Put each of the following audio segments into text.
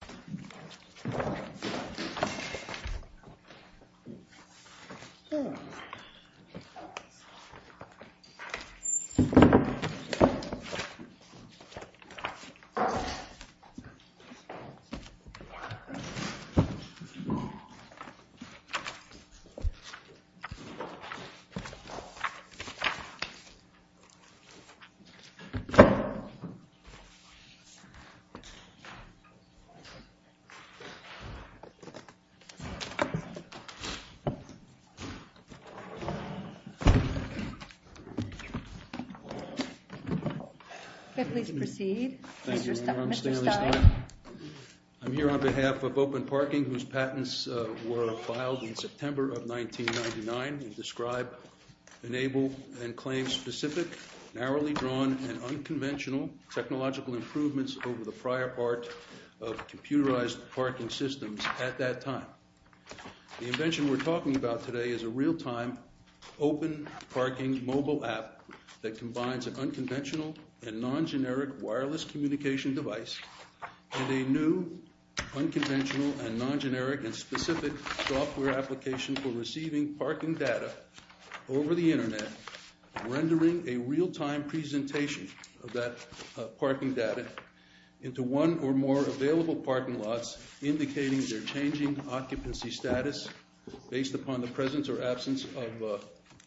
Parking, LLC v. ParkMe, Inc. I'm here on behalf of Open Parking, whose patents were filed in September of 1999 and describe, enable, and claim specific, narrowly drawn, and unconventional technological improvements over the prior part of computerized parking systems at that time. The invention we're talking about today is a real-time, open parking mobile app that combines an unconventional and non-generic wireless communication device and a new, unconventional and non-generic and specific software application for receiving parking data over the internet, rendering a real-time presentation of that parking data into one or more available parking lots, indicating their changing occupancy status based upon the presence or absence of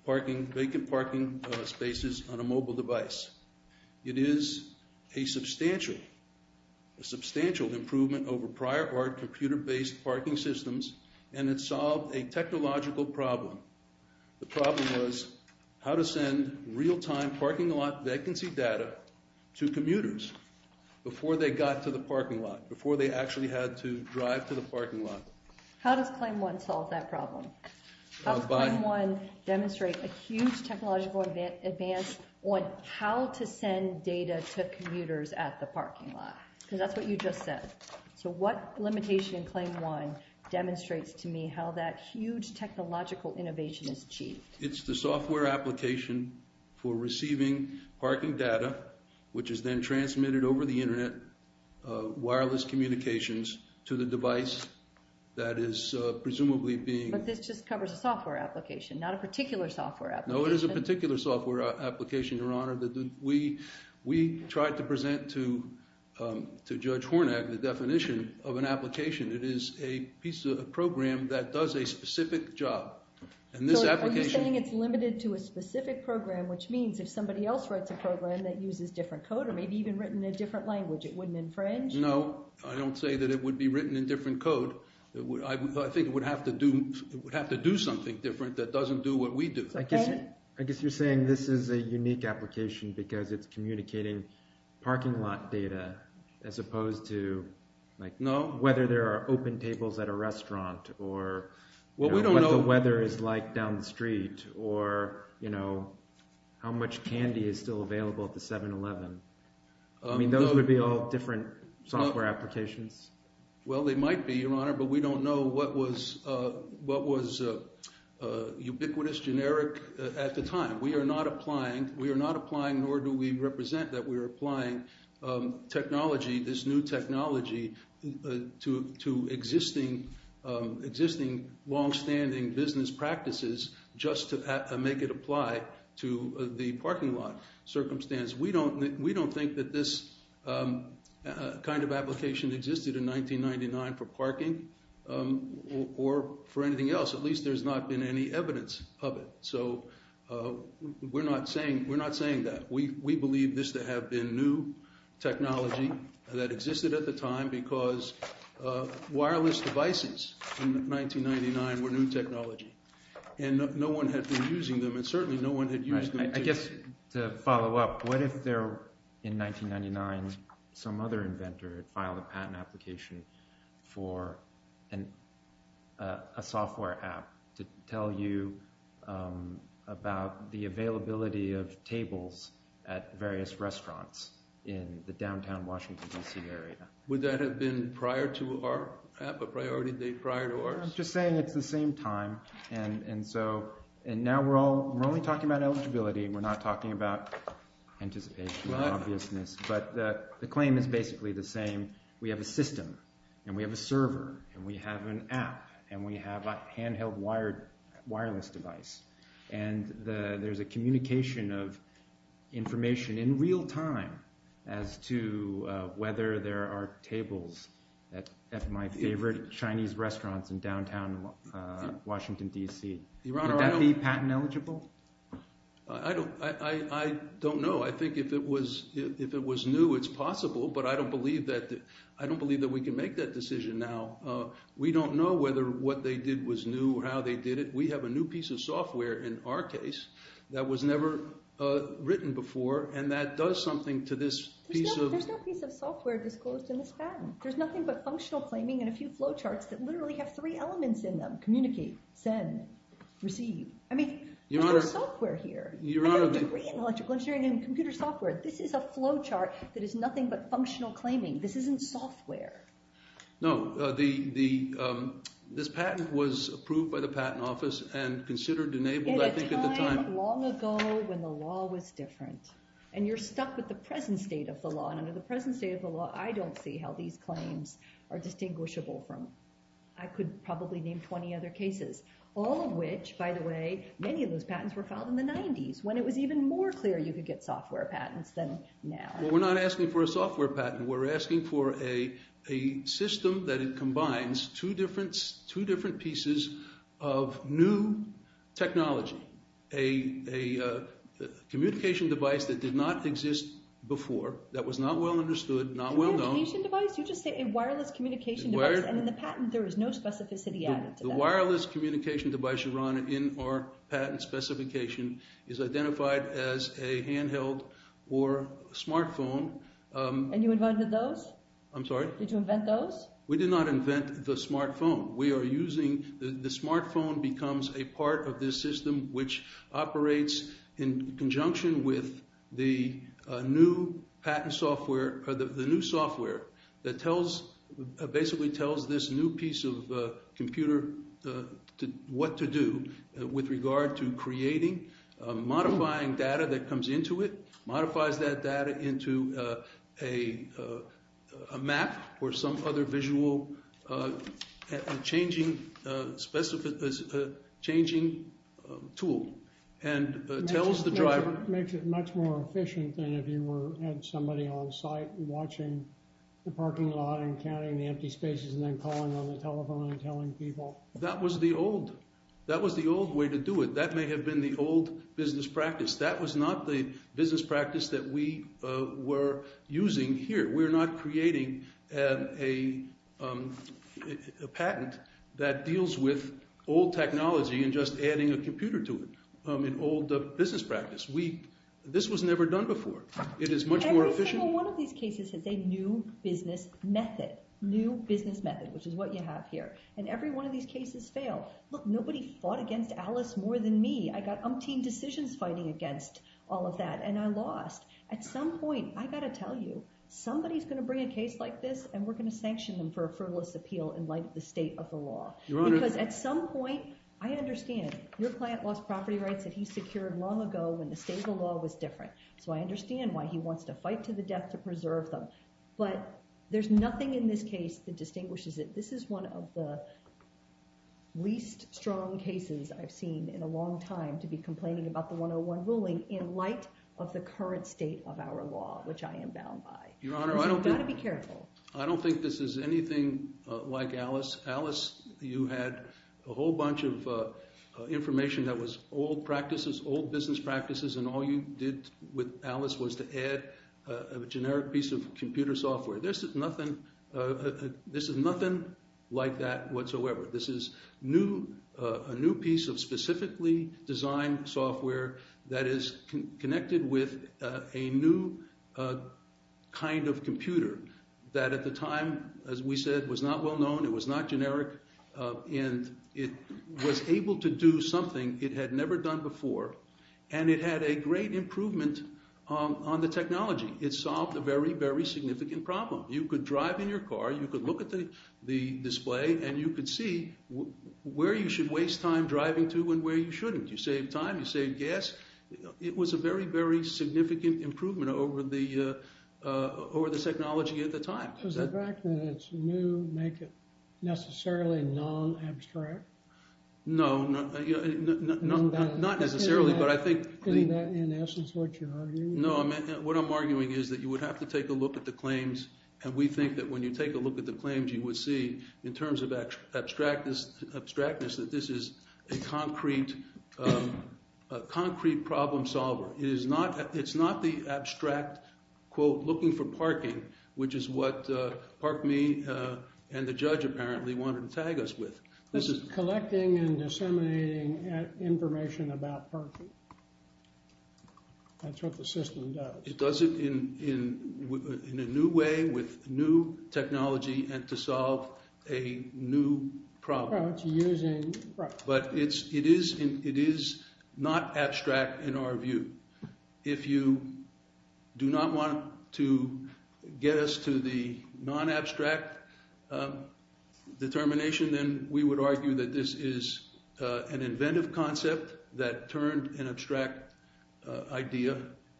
vacant parking spaces on a mobile device. It is a substantial improvement over prior-art computer-based parking systems, and it solved a technological problem. The problem was how to send real-time parking lot vacancy data to commuters before they got to the parking lot, before they actually had to drive to the parking lot. How does Claim 1 solve that problem? How does Claim 1 demonstrate a huge technological advance on how to send data to commuters at the parking lot? Because that's what you just said. So what limitation in Claim 1 demonstrates to me how that huge technological innovation is achieved? It's the software application for receiving parking data, which is then transmitted over the internet, wireless communications, to the device that is presumably being... But this just covers a software application, not a particular software application. No, it is a particular software application, Your Honor. We tried to present to Judge Hornak the definition of an application. It is a piece of a program that does a specific job. So are you saying it's limited to a specific program, which means if somebody else writes a program that uses different code or maybe even written in a different language, it wouldn't infringe? No, I don't say that it would be written in different code. I think it would have to do something different that doesn't do what we do. I guess you're saying this is a unique application because it's communicating parking lot data as opposed to whether there are open tables at a restaurant or what the weather is like down the street or how much candy is still available at the 7-Eleven. I mean, those would be all different software applications. Well, they might be, Your Honor, but we don't know what was ubiquitous, generic at the time. We are not applying, nor do we represent that we are applying technology, this new technology to existing longstanding business practices just to make it apply to the parking lot circumstance. We don't think that this kind of application existed in 1999 for parking or for anything else. At least there's not been any evidence of it. So we're not saying that. We believe this to have been new technology that existed at the time because wireless devices in 1999 were new technology and no one had been using them and certainly no one had used them. I guess to follow up, what if in 1999 some other inventor had filed a patent application for a software app to tell you about the availability of tables at various restaurants in the downtown Washington, D.C. area? Would that have been prior to our app, a priority date prior to ours? I'm just saying it's the same time. And so now we're only talking about eligibility. We're not talking about anticipation or obviousness, but the claim is basically the same. We have a system and we have a server and we have an app and we have a handheld wireless device and there's a communication of information in real time as to whether there are tables at my favorite Chinese restaurants in downtown Washington, D.C. Would that be patent eligible? I don't know. I think if it was new, it's possible, but I don't believe that we can make that decision now. We don't know whether what they did was new or how they did it. We have a new piece of software in our case that was never written before and that does something to this piece of... There's no piece of software disclosed in this patent. There's nothing but functional claiming and a few flowcharts that literally have three elements in them, communicate, send, receive. I mean, there's no software here. I have a degree in electrical engineering and computer software. This is a flowchart that is nothing but functional claiming. This isn't software. No, this patent was approved by the patent office and considered enabled, I think, at the time... In a time long ago when the law was different and you're stuck with the present state of the law, I don't see how these claims are distinguishable from, I could probably name 20 other cases, all of which, by the way, many of those patents were filed in the 90s when it was even more clear you could get software patents than now. Well, we're not asking for a software patent. We're asking for a system that combines two different pieces of new technology, a communication device that did not exist before, that was not well understood, not well known... A communication device? You just say a wireless communication device and in the patent there is no specificity added to that. The wireless communication device, Yaron, in our patent specification is identified as a handheld or smartphone. And you invented those? I'm sorry? Did you invent those? We did not invent the smartphone. We are using... The smartphone becomes a part of this system which operates in conjunction with the new patent software, the new software that basically tells this new piece of computer what to do with regard to creating, modifying data that comes into it, modifies that data into a map or some other visual changing tool and tells the driver... Makes it much more efficient than if you had somebody on site watching the parking lot and counting the empty spaces and then calling on the telephone and telling people. That was the old way to do it. That may have been the old business practice. That was not the business practice that we were using here. We're not creating a patent that deals with old technology and just adding a computer to it. An old business practice. This was never done before. It is much more efficient. Every single one of these cases has a new business method. New business method, which is what you have here. And every one of these cases failed. Look, nobody fought against Alice more than me. I got umpteen decisions fighting against all of that and I lost. At some point, I got to tell you, somebody's going to bring a case like this and we're going to sanction them for a frivolous appeal in light of the state of the law. Your Honor... Because at some point, I understand. Your client lost property rights that he secured long ago when the state of the law was different. So I understand why he wants to fight to the death to preserve them. But there's nothing in this case that distinguishes it. This is one of the least strong cases I've seen in a long time to be complaining about the 101 ruling in light of the current state of our law, which I am bound by. Your Honor, I don't... You've got to be careful. I don't think this is anything like Alice. Alice, you had a whole bunch of information that was old practices, old business practices, and all you did with Alice was to add a generic piece of computer software. This is nothing like that whatsoever. This is a new piece of specifically designed software that is connected with a new kind of computer that at the time, as we said, was not well known, it was not generic, and it was able to do something it had never done before and it had a great improvement on the technology. It solved a very, very significant problem. You could drive in your car, you could look at the display, and you could see where you should waste time driving to and where you shouldn't. You saved time, you saved gas. It was a very, very significant improvement over the technology at the time. Does the fact that it's new make it necessarily non-abstract? No, not necessarily, but I think... Isn't that, in essence, what you're arguing? No, what I'm arguing is that you would have to take a look at the claims and we think that when you take a look at the claims, you would see, in terms of abstractness, that this is a concrete problem solver. It's not the abstract, quote, looking for parking, which is what ParkMe and the judge apparently wanted to tag us with. This is collecting and disseminating information about parking. That's what the system does. It does it in a new way, with new technology, and to solve a new problem. But it is not abstract in our view. If you do not want to get us to the non-abstract determination, then we would argue that this is an inventive concept that turned an abstract idea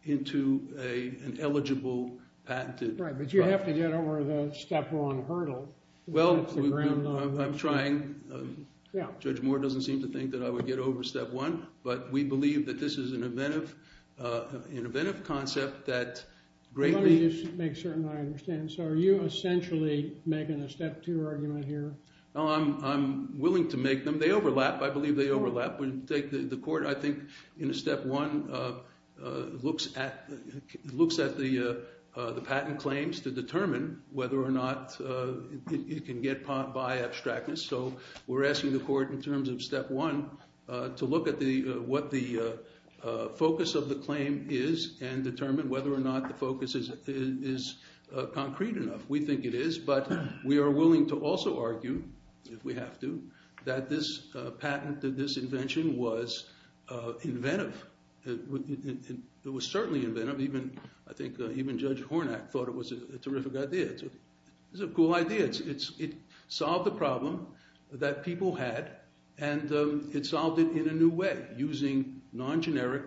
into an eligible, patented... Right, but you have to get over the step one hurdle. Well, I'm trying. Judge Moore doesn't seem to think that I would get over step one, but we believe that this is an inventive concept that greatly... Let me just make certain I understand. So are you essentially making a step two argument here? I'm willing to make them. They overlap. I believe they overlap. The court, I think, in a step one, looks at the patent claims to determine whether or not it can get by abstractness. So we're asking the court, in terms of step one, to look at what the focus of the claim is and determine whether or not the focus is concrete enough. We think it is, but we are willing to also argue, if we have to, that this patent, that this invention was inventive. It was certainly inventive. I think even Judge Hornak thought it was a terrific idea. It's a cool idea. It solved the problem that people had and it solved it in a new way, using non-generic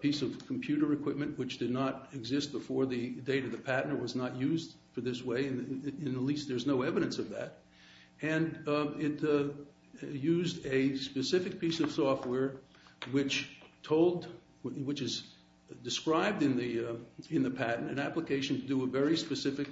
piece of computer equipment which did not exist before the date of the patent. It was not used for this way and at least there's no evidence of that. And it used a specific piece of software which is described in the patent, an application to do a very specific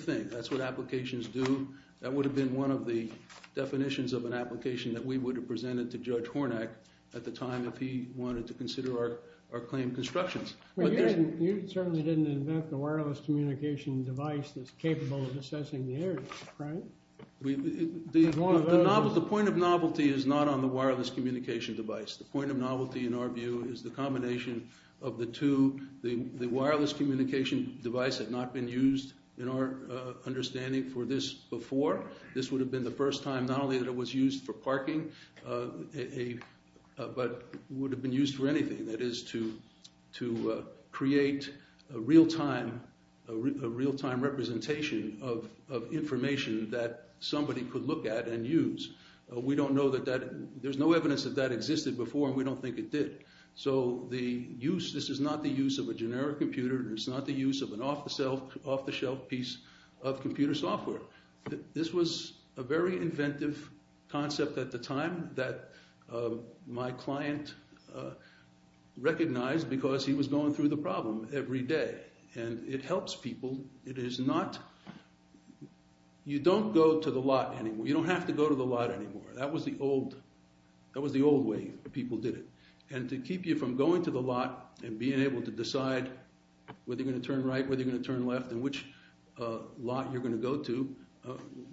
thing. That's what applications do. That would have been one of the definitions of an application that we would have presented to Judge Hornak at the time if he wanted to consider our claim constructions. But you certainly didn't invent the wireless communication device that's capable of assessing the air, right? The point of novelty is not on the wireless communication device. The point of novelty in our view is the combination of the two. The wireless communication device had not been used, in our understanding, for this before. This would have been the first time not only that it was used for parking but would have been used for anything. That is to create a real-time representation of information that somebody could look at and use. There's no evidence that that existed before and we don't think it did. This is not the use of a generic computer. It's not the use of an off-the-shelf piece of computer software. This was a very inventive concept at the time that my client recognized because he was going through the problem every day. And it helps people. It is not... You don't go to the lot anymore. You don't have to go to the lot anymore. That was the old way people did it. And to keep you from going to the lot and being able to decide whether you're going to turn right whether you're going to turn left and which lot you're going to go to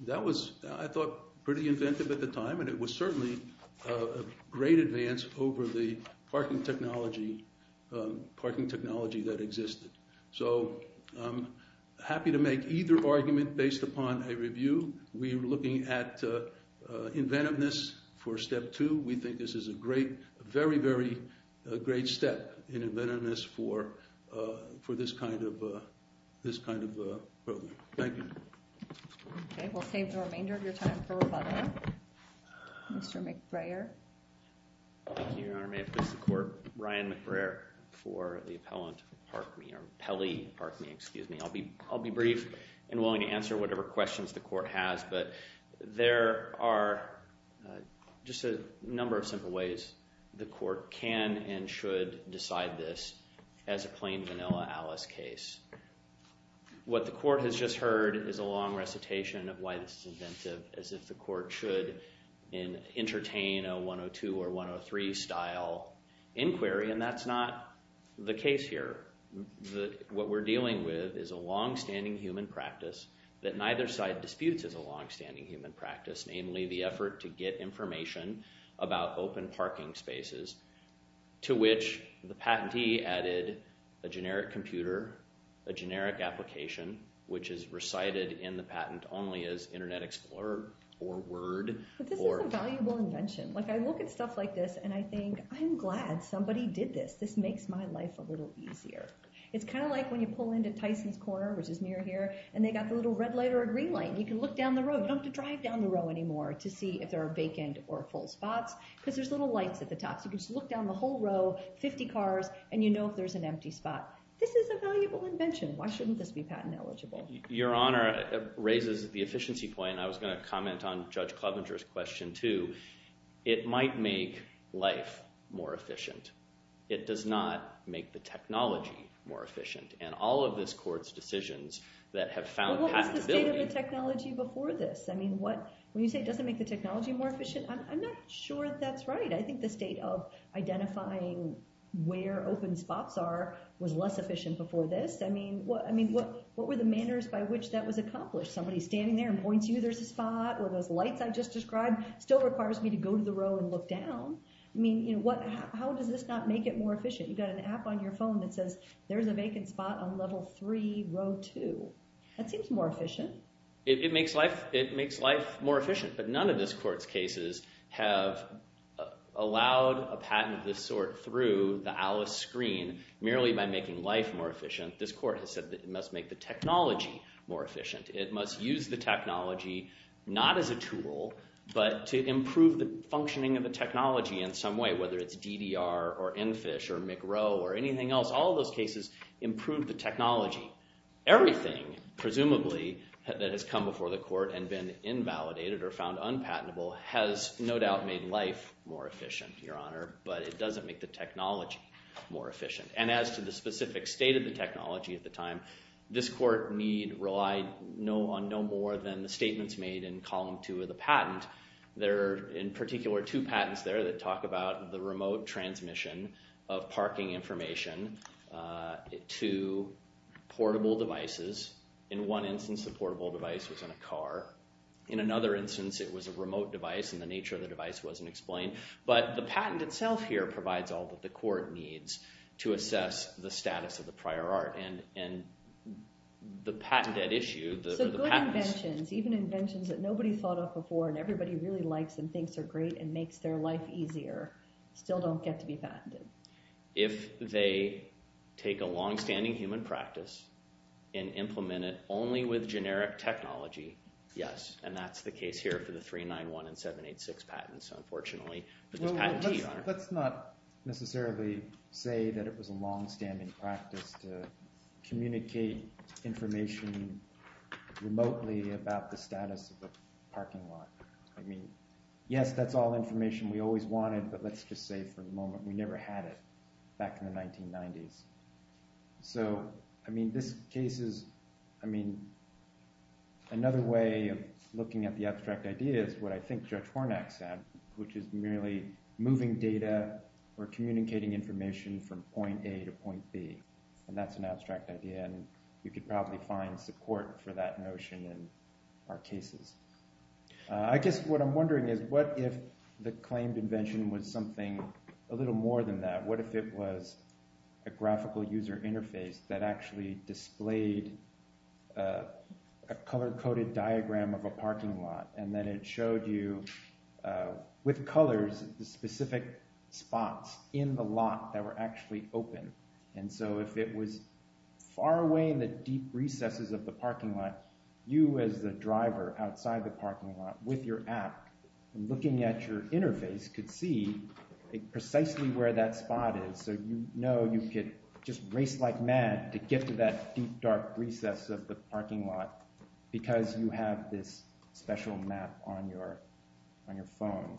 that was, I thought, pretty inventive at the time and it was certainly a great advance over the parking technology that existed. So I'm happy to make either argument based upon a review. We're looking at inventiveness for step two. We think this is a great, a very, very great step in inventiveness for this kind of program. Thank you. Okay, we'll save the remainder of your time for rebuttal. Mr. McBrayer. Thank you, Your Honor. May I please support Ryan McBrayer for the appellant Parkme or Pelly Parkme, excuse me. I'll be brief and willing to answer whatever questions the court has but there are just a number of simple ways the court can and should decide this as a plain vanilla Alice case. What the court has just heard is a long recitation of why this is inventive as if the court should entertain a 102 or 103 style inquiry and that's not the case here. What we're dealing with is a long-standing human practice that neither side disputes as a long-standing human practice namely the effort to get information about open parking spaces to which the patentee added a generic computer a generic application which is recited in the patent only as Internet Explorer or Word. But this is a valuable invention. Like I look at stuff like this and I think I'm glad somebody did this. This makes my life a little easier. It's kind of like when you pull into Tyson's Corner which is near here and they got the little red light or green light and you can look down the road you don't have to drive down the road anymore to see if there are vacant or full spots because there's little lights at the top so you can just look down the whole row 50 cars and you know if there's an empty spot. This is a valuable invention. Why shouldn't this be patent eligible? Your Honor, it raises the efficiency point and I was going to comment on Judge Klovenger's question too It might make life more efficient. It does not make the technology more efficient. And all of this court's decisions that have found patentability What was the state of the technology before this? When you say it doesn't make the technology more efficient I'm not sure that's right. I think the state of identifying where open spots are was less efficient before this. What were the manners by which that was accomplished? Somebody standing there and points you there's a spot or those lights I just described still requires me to go to the row and look down. How does this not make it more efficient? You've got an app on your phone that says there's a vacant spot on level 3, row 2 That seems more efficient. It makes life more efficient But none of this court's cases have allowed a patent of this sort through the ALICE screen merely by making life more efficient This court has said it must make the technology more efficient It must use the technology not as a tool but to improve the functioning of the technology in some way, whether it's DDR or EnFish or McRow or anything else All of those cases improved the technology Everything, presumably that has come before the court and been invalidated or found unpatentable has no doubt made life more efficient, your honor but it doesn't make the technology more efficient And as to the specific state of the technology at the time, this court relied on no more than the statements made in column 2 of the patent There are, in particular, two patents there that talk about the remote transmission of parking information to portable devices In one instance, the portable device was in a car In another instance, it was a remote device and the nature of the device wasn't explained But the patent itself here provides all that the court needs to assess the status of the prior art And the patented issue So good inventions, even inventions that nobody thought of before and everybody really likes and thinks are great and makes their life easier still don't get to be patented If they take a longstanding human practice and implement it only with generic technology Yes, and that's the case here for the 391 and 786 patents unfortunately Let's not necessarily say that it was a longstanding practice to communicate information remotely about the status of a parking lot Yes, that's all information we always wanted, but let's just say for the moment, we never had it back in the 1990s So, I mean, this case is I mean another way of looking at the abstract idea is what I think Judge Hornak said, which is merely moving data or communicating information from point A to point B and that's an abstract idea and you could probably find support for that notion in our cases I guess what I'm wondering is what if the claimed invention was something a little more than that, what if it was a graphical user interface that actually displayed a color-coded diagram of a parking lot and then it showed you with colors specific spots in the lot that were actually open and so if it was far away in the deep recesses of the parking lot, you as the driver outside the parking lot, with your app, looking at your precisely where that spot is so you know you could just race like mad to get to that deep dark recess of the parking lot because you have this special map on your phone.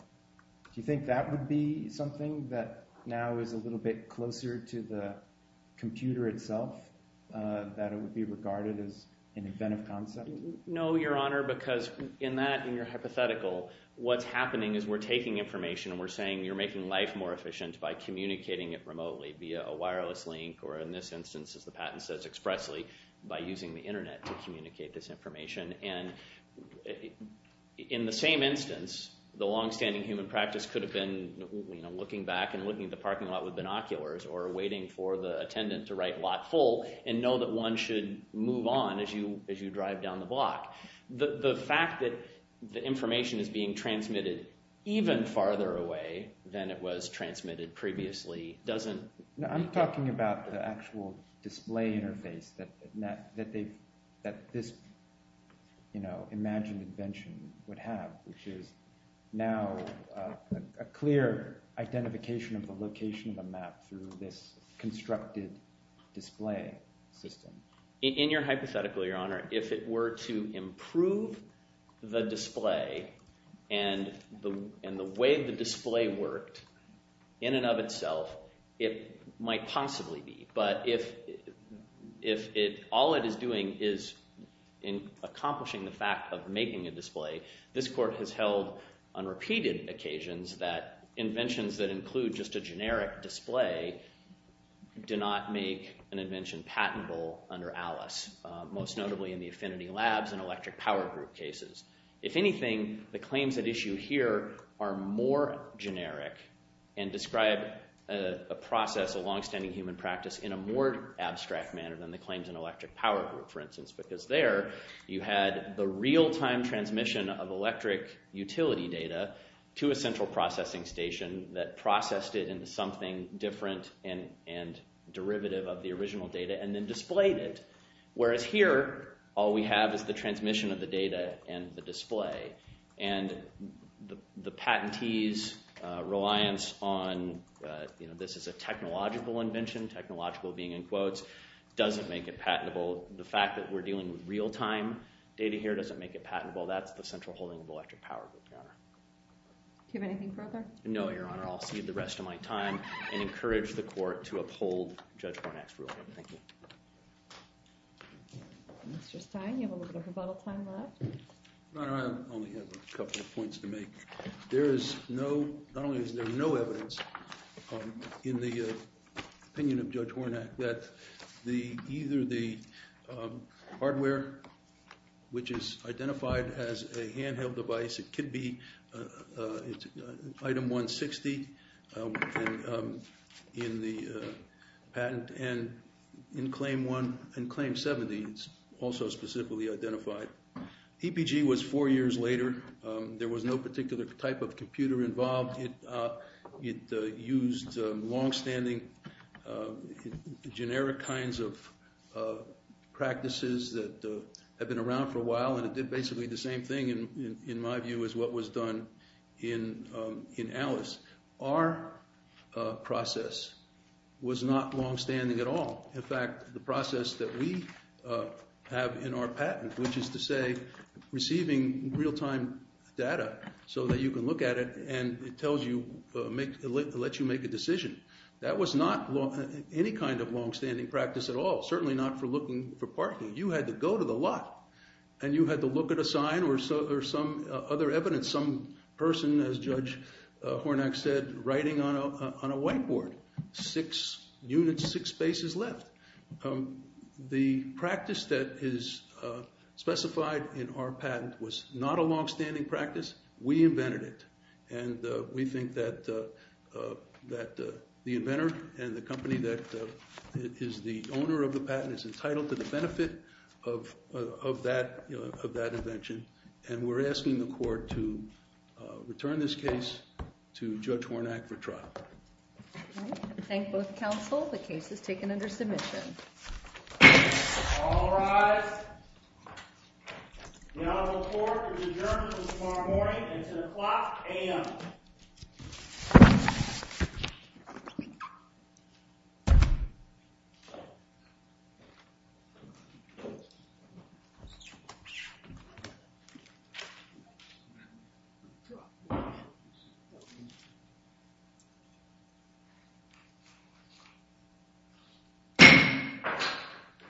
Do you think that would be something that now is a little bit closer to the computer itself that it would be regarded as an inventive concept? No, Your Honor because in that, in your hypothetical what's happening is we're taking information and we're saying you're making life more efficient by communicating it remotely via a wireless link or in this instance as the patent says expressly by using the internet to communicate this information and in the same instance the long-standing human practice could have been looking back and looking at the parking lot with binoculars or waiting for the attendant to write lot full and know that one should move on as you drive down the block. The fact that the information is being transmitted even farther away than it was transmitted previously doesn't I'm talking about the actual display interface that this imagined invention would have which is now a clear identification of the location of a map through this constructed display system. In your hypothetical, Your Honor if it were to improve the display and the way the display worked in and of itself it might possibly be but if all it is doing is in accomplishing the fact of making a display this court has held on repeated occasions that inventions that include just a generic display do not make an invention patentable under Alice, most notably in the Affinity Labs and electric power group cases. If anything, the claims at issue here are more generic and describe a process, a longstanding human practice in a more abstract manner than the claims in electric power group for instance because there you had the real time transmission of electric utility data to a central processing station that processed it into something different and derivative of the original data and then displayed it whereas here all we have is the transmission of the data and the display and the patentees reliance on this is a technological invention, technological being in quotes doesn't make it patentable. The fact that we're dealing with real time data here doesn't make it patentable. That's the central holding of electric power group, Your Honor. Do you have anything further? No, Your Honor. I'll cede the rest of my time and encourage the court to uphold Judge Mr. Stein, you have a little bit of rebuttal time left. Your Honor, I only have a couple of points to make. There is no not only is there no evidence in the opinion of Judge Hornak that either the hardware which is identified as a handheld device, it could be item 160 in the patent and in claim 70 it's also specifically identified. EPG was four years later, there was no particular type of computer involved it used long-standing generic kinds of practices that have been around for a while and it did basically the same thing in my view as what was done in Alice. Our process was not long-standing at all in fact, the process that we have in our patent which is to say, receiving real-time data so that you can look at it and it tells you, lets you make a decision that was not any kind of long-standing practice at all certainly not for looking for parking you had to go to the lot and you had to look at a sign or some other evidence, some person as Judge Hornak said writing on a whiteboard six units, six spaces left the practice that is specified in our patent was not a long-standing practice we invented it and we think that the inventor and the company that is the owner of the patent is entitled to the benefit of that invention and we're asking the court to return this case to Judge Hornak for trial Thank both counsel, the case is taken under submission All rise The Honorable Court is adjourned until tomorrow morning at 10 o'clock a.m.............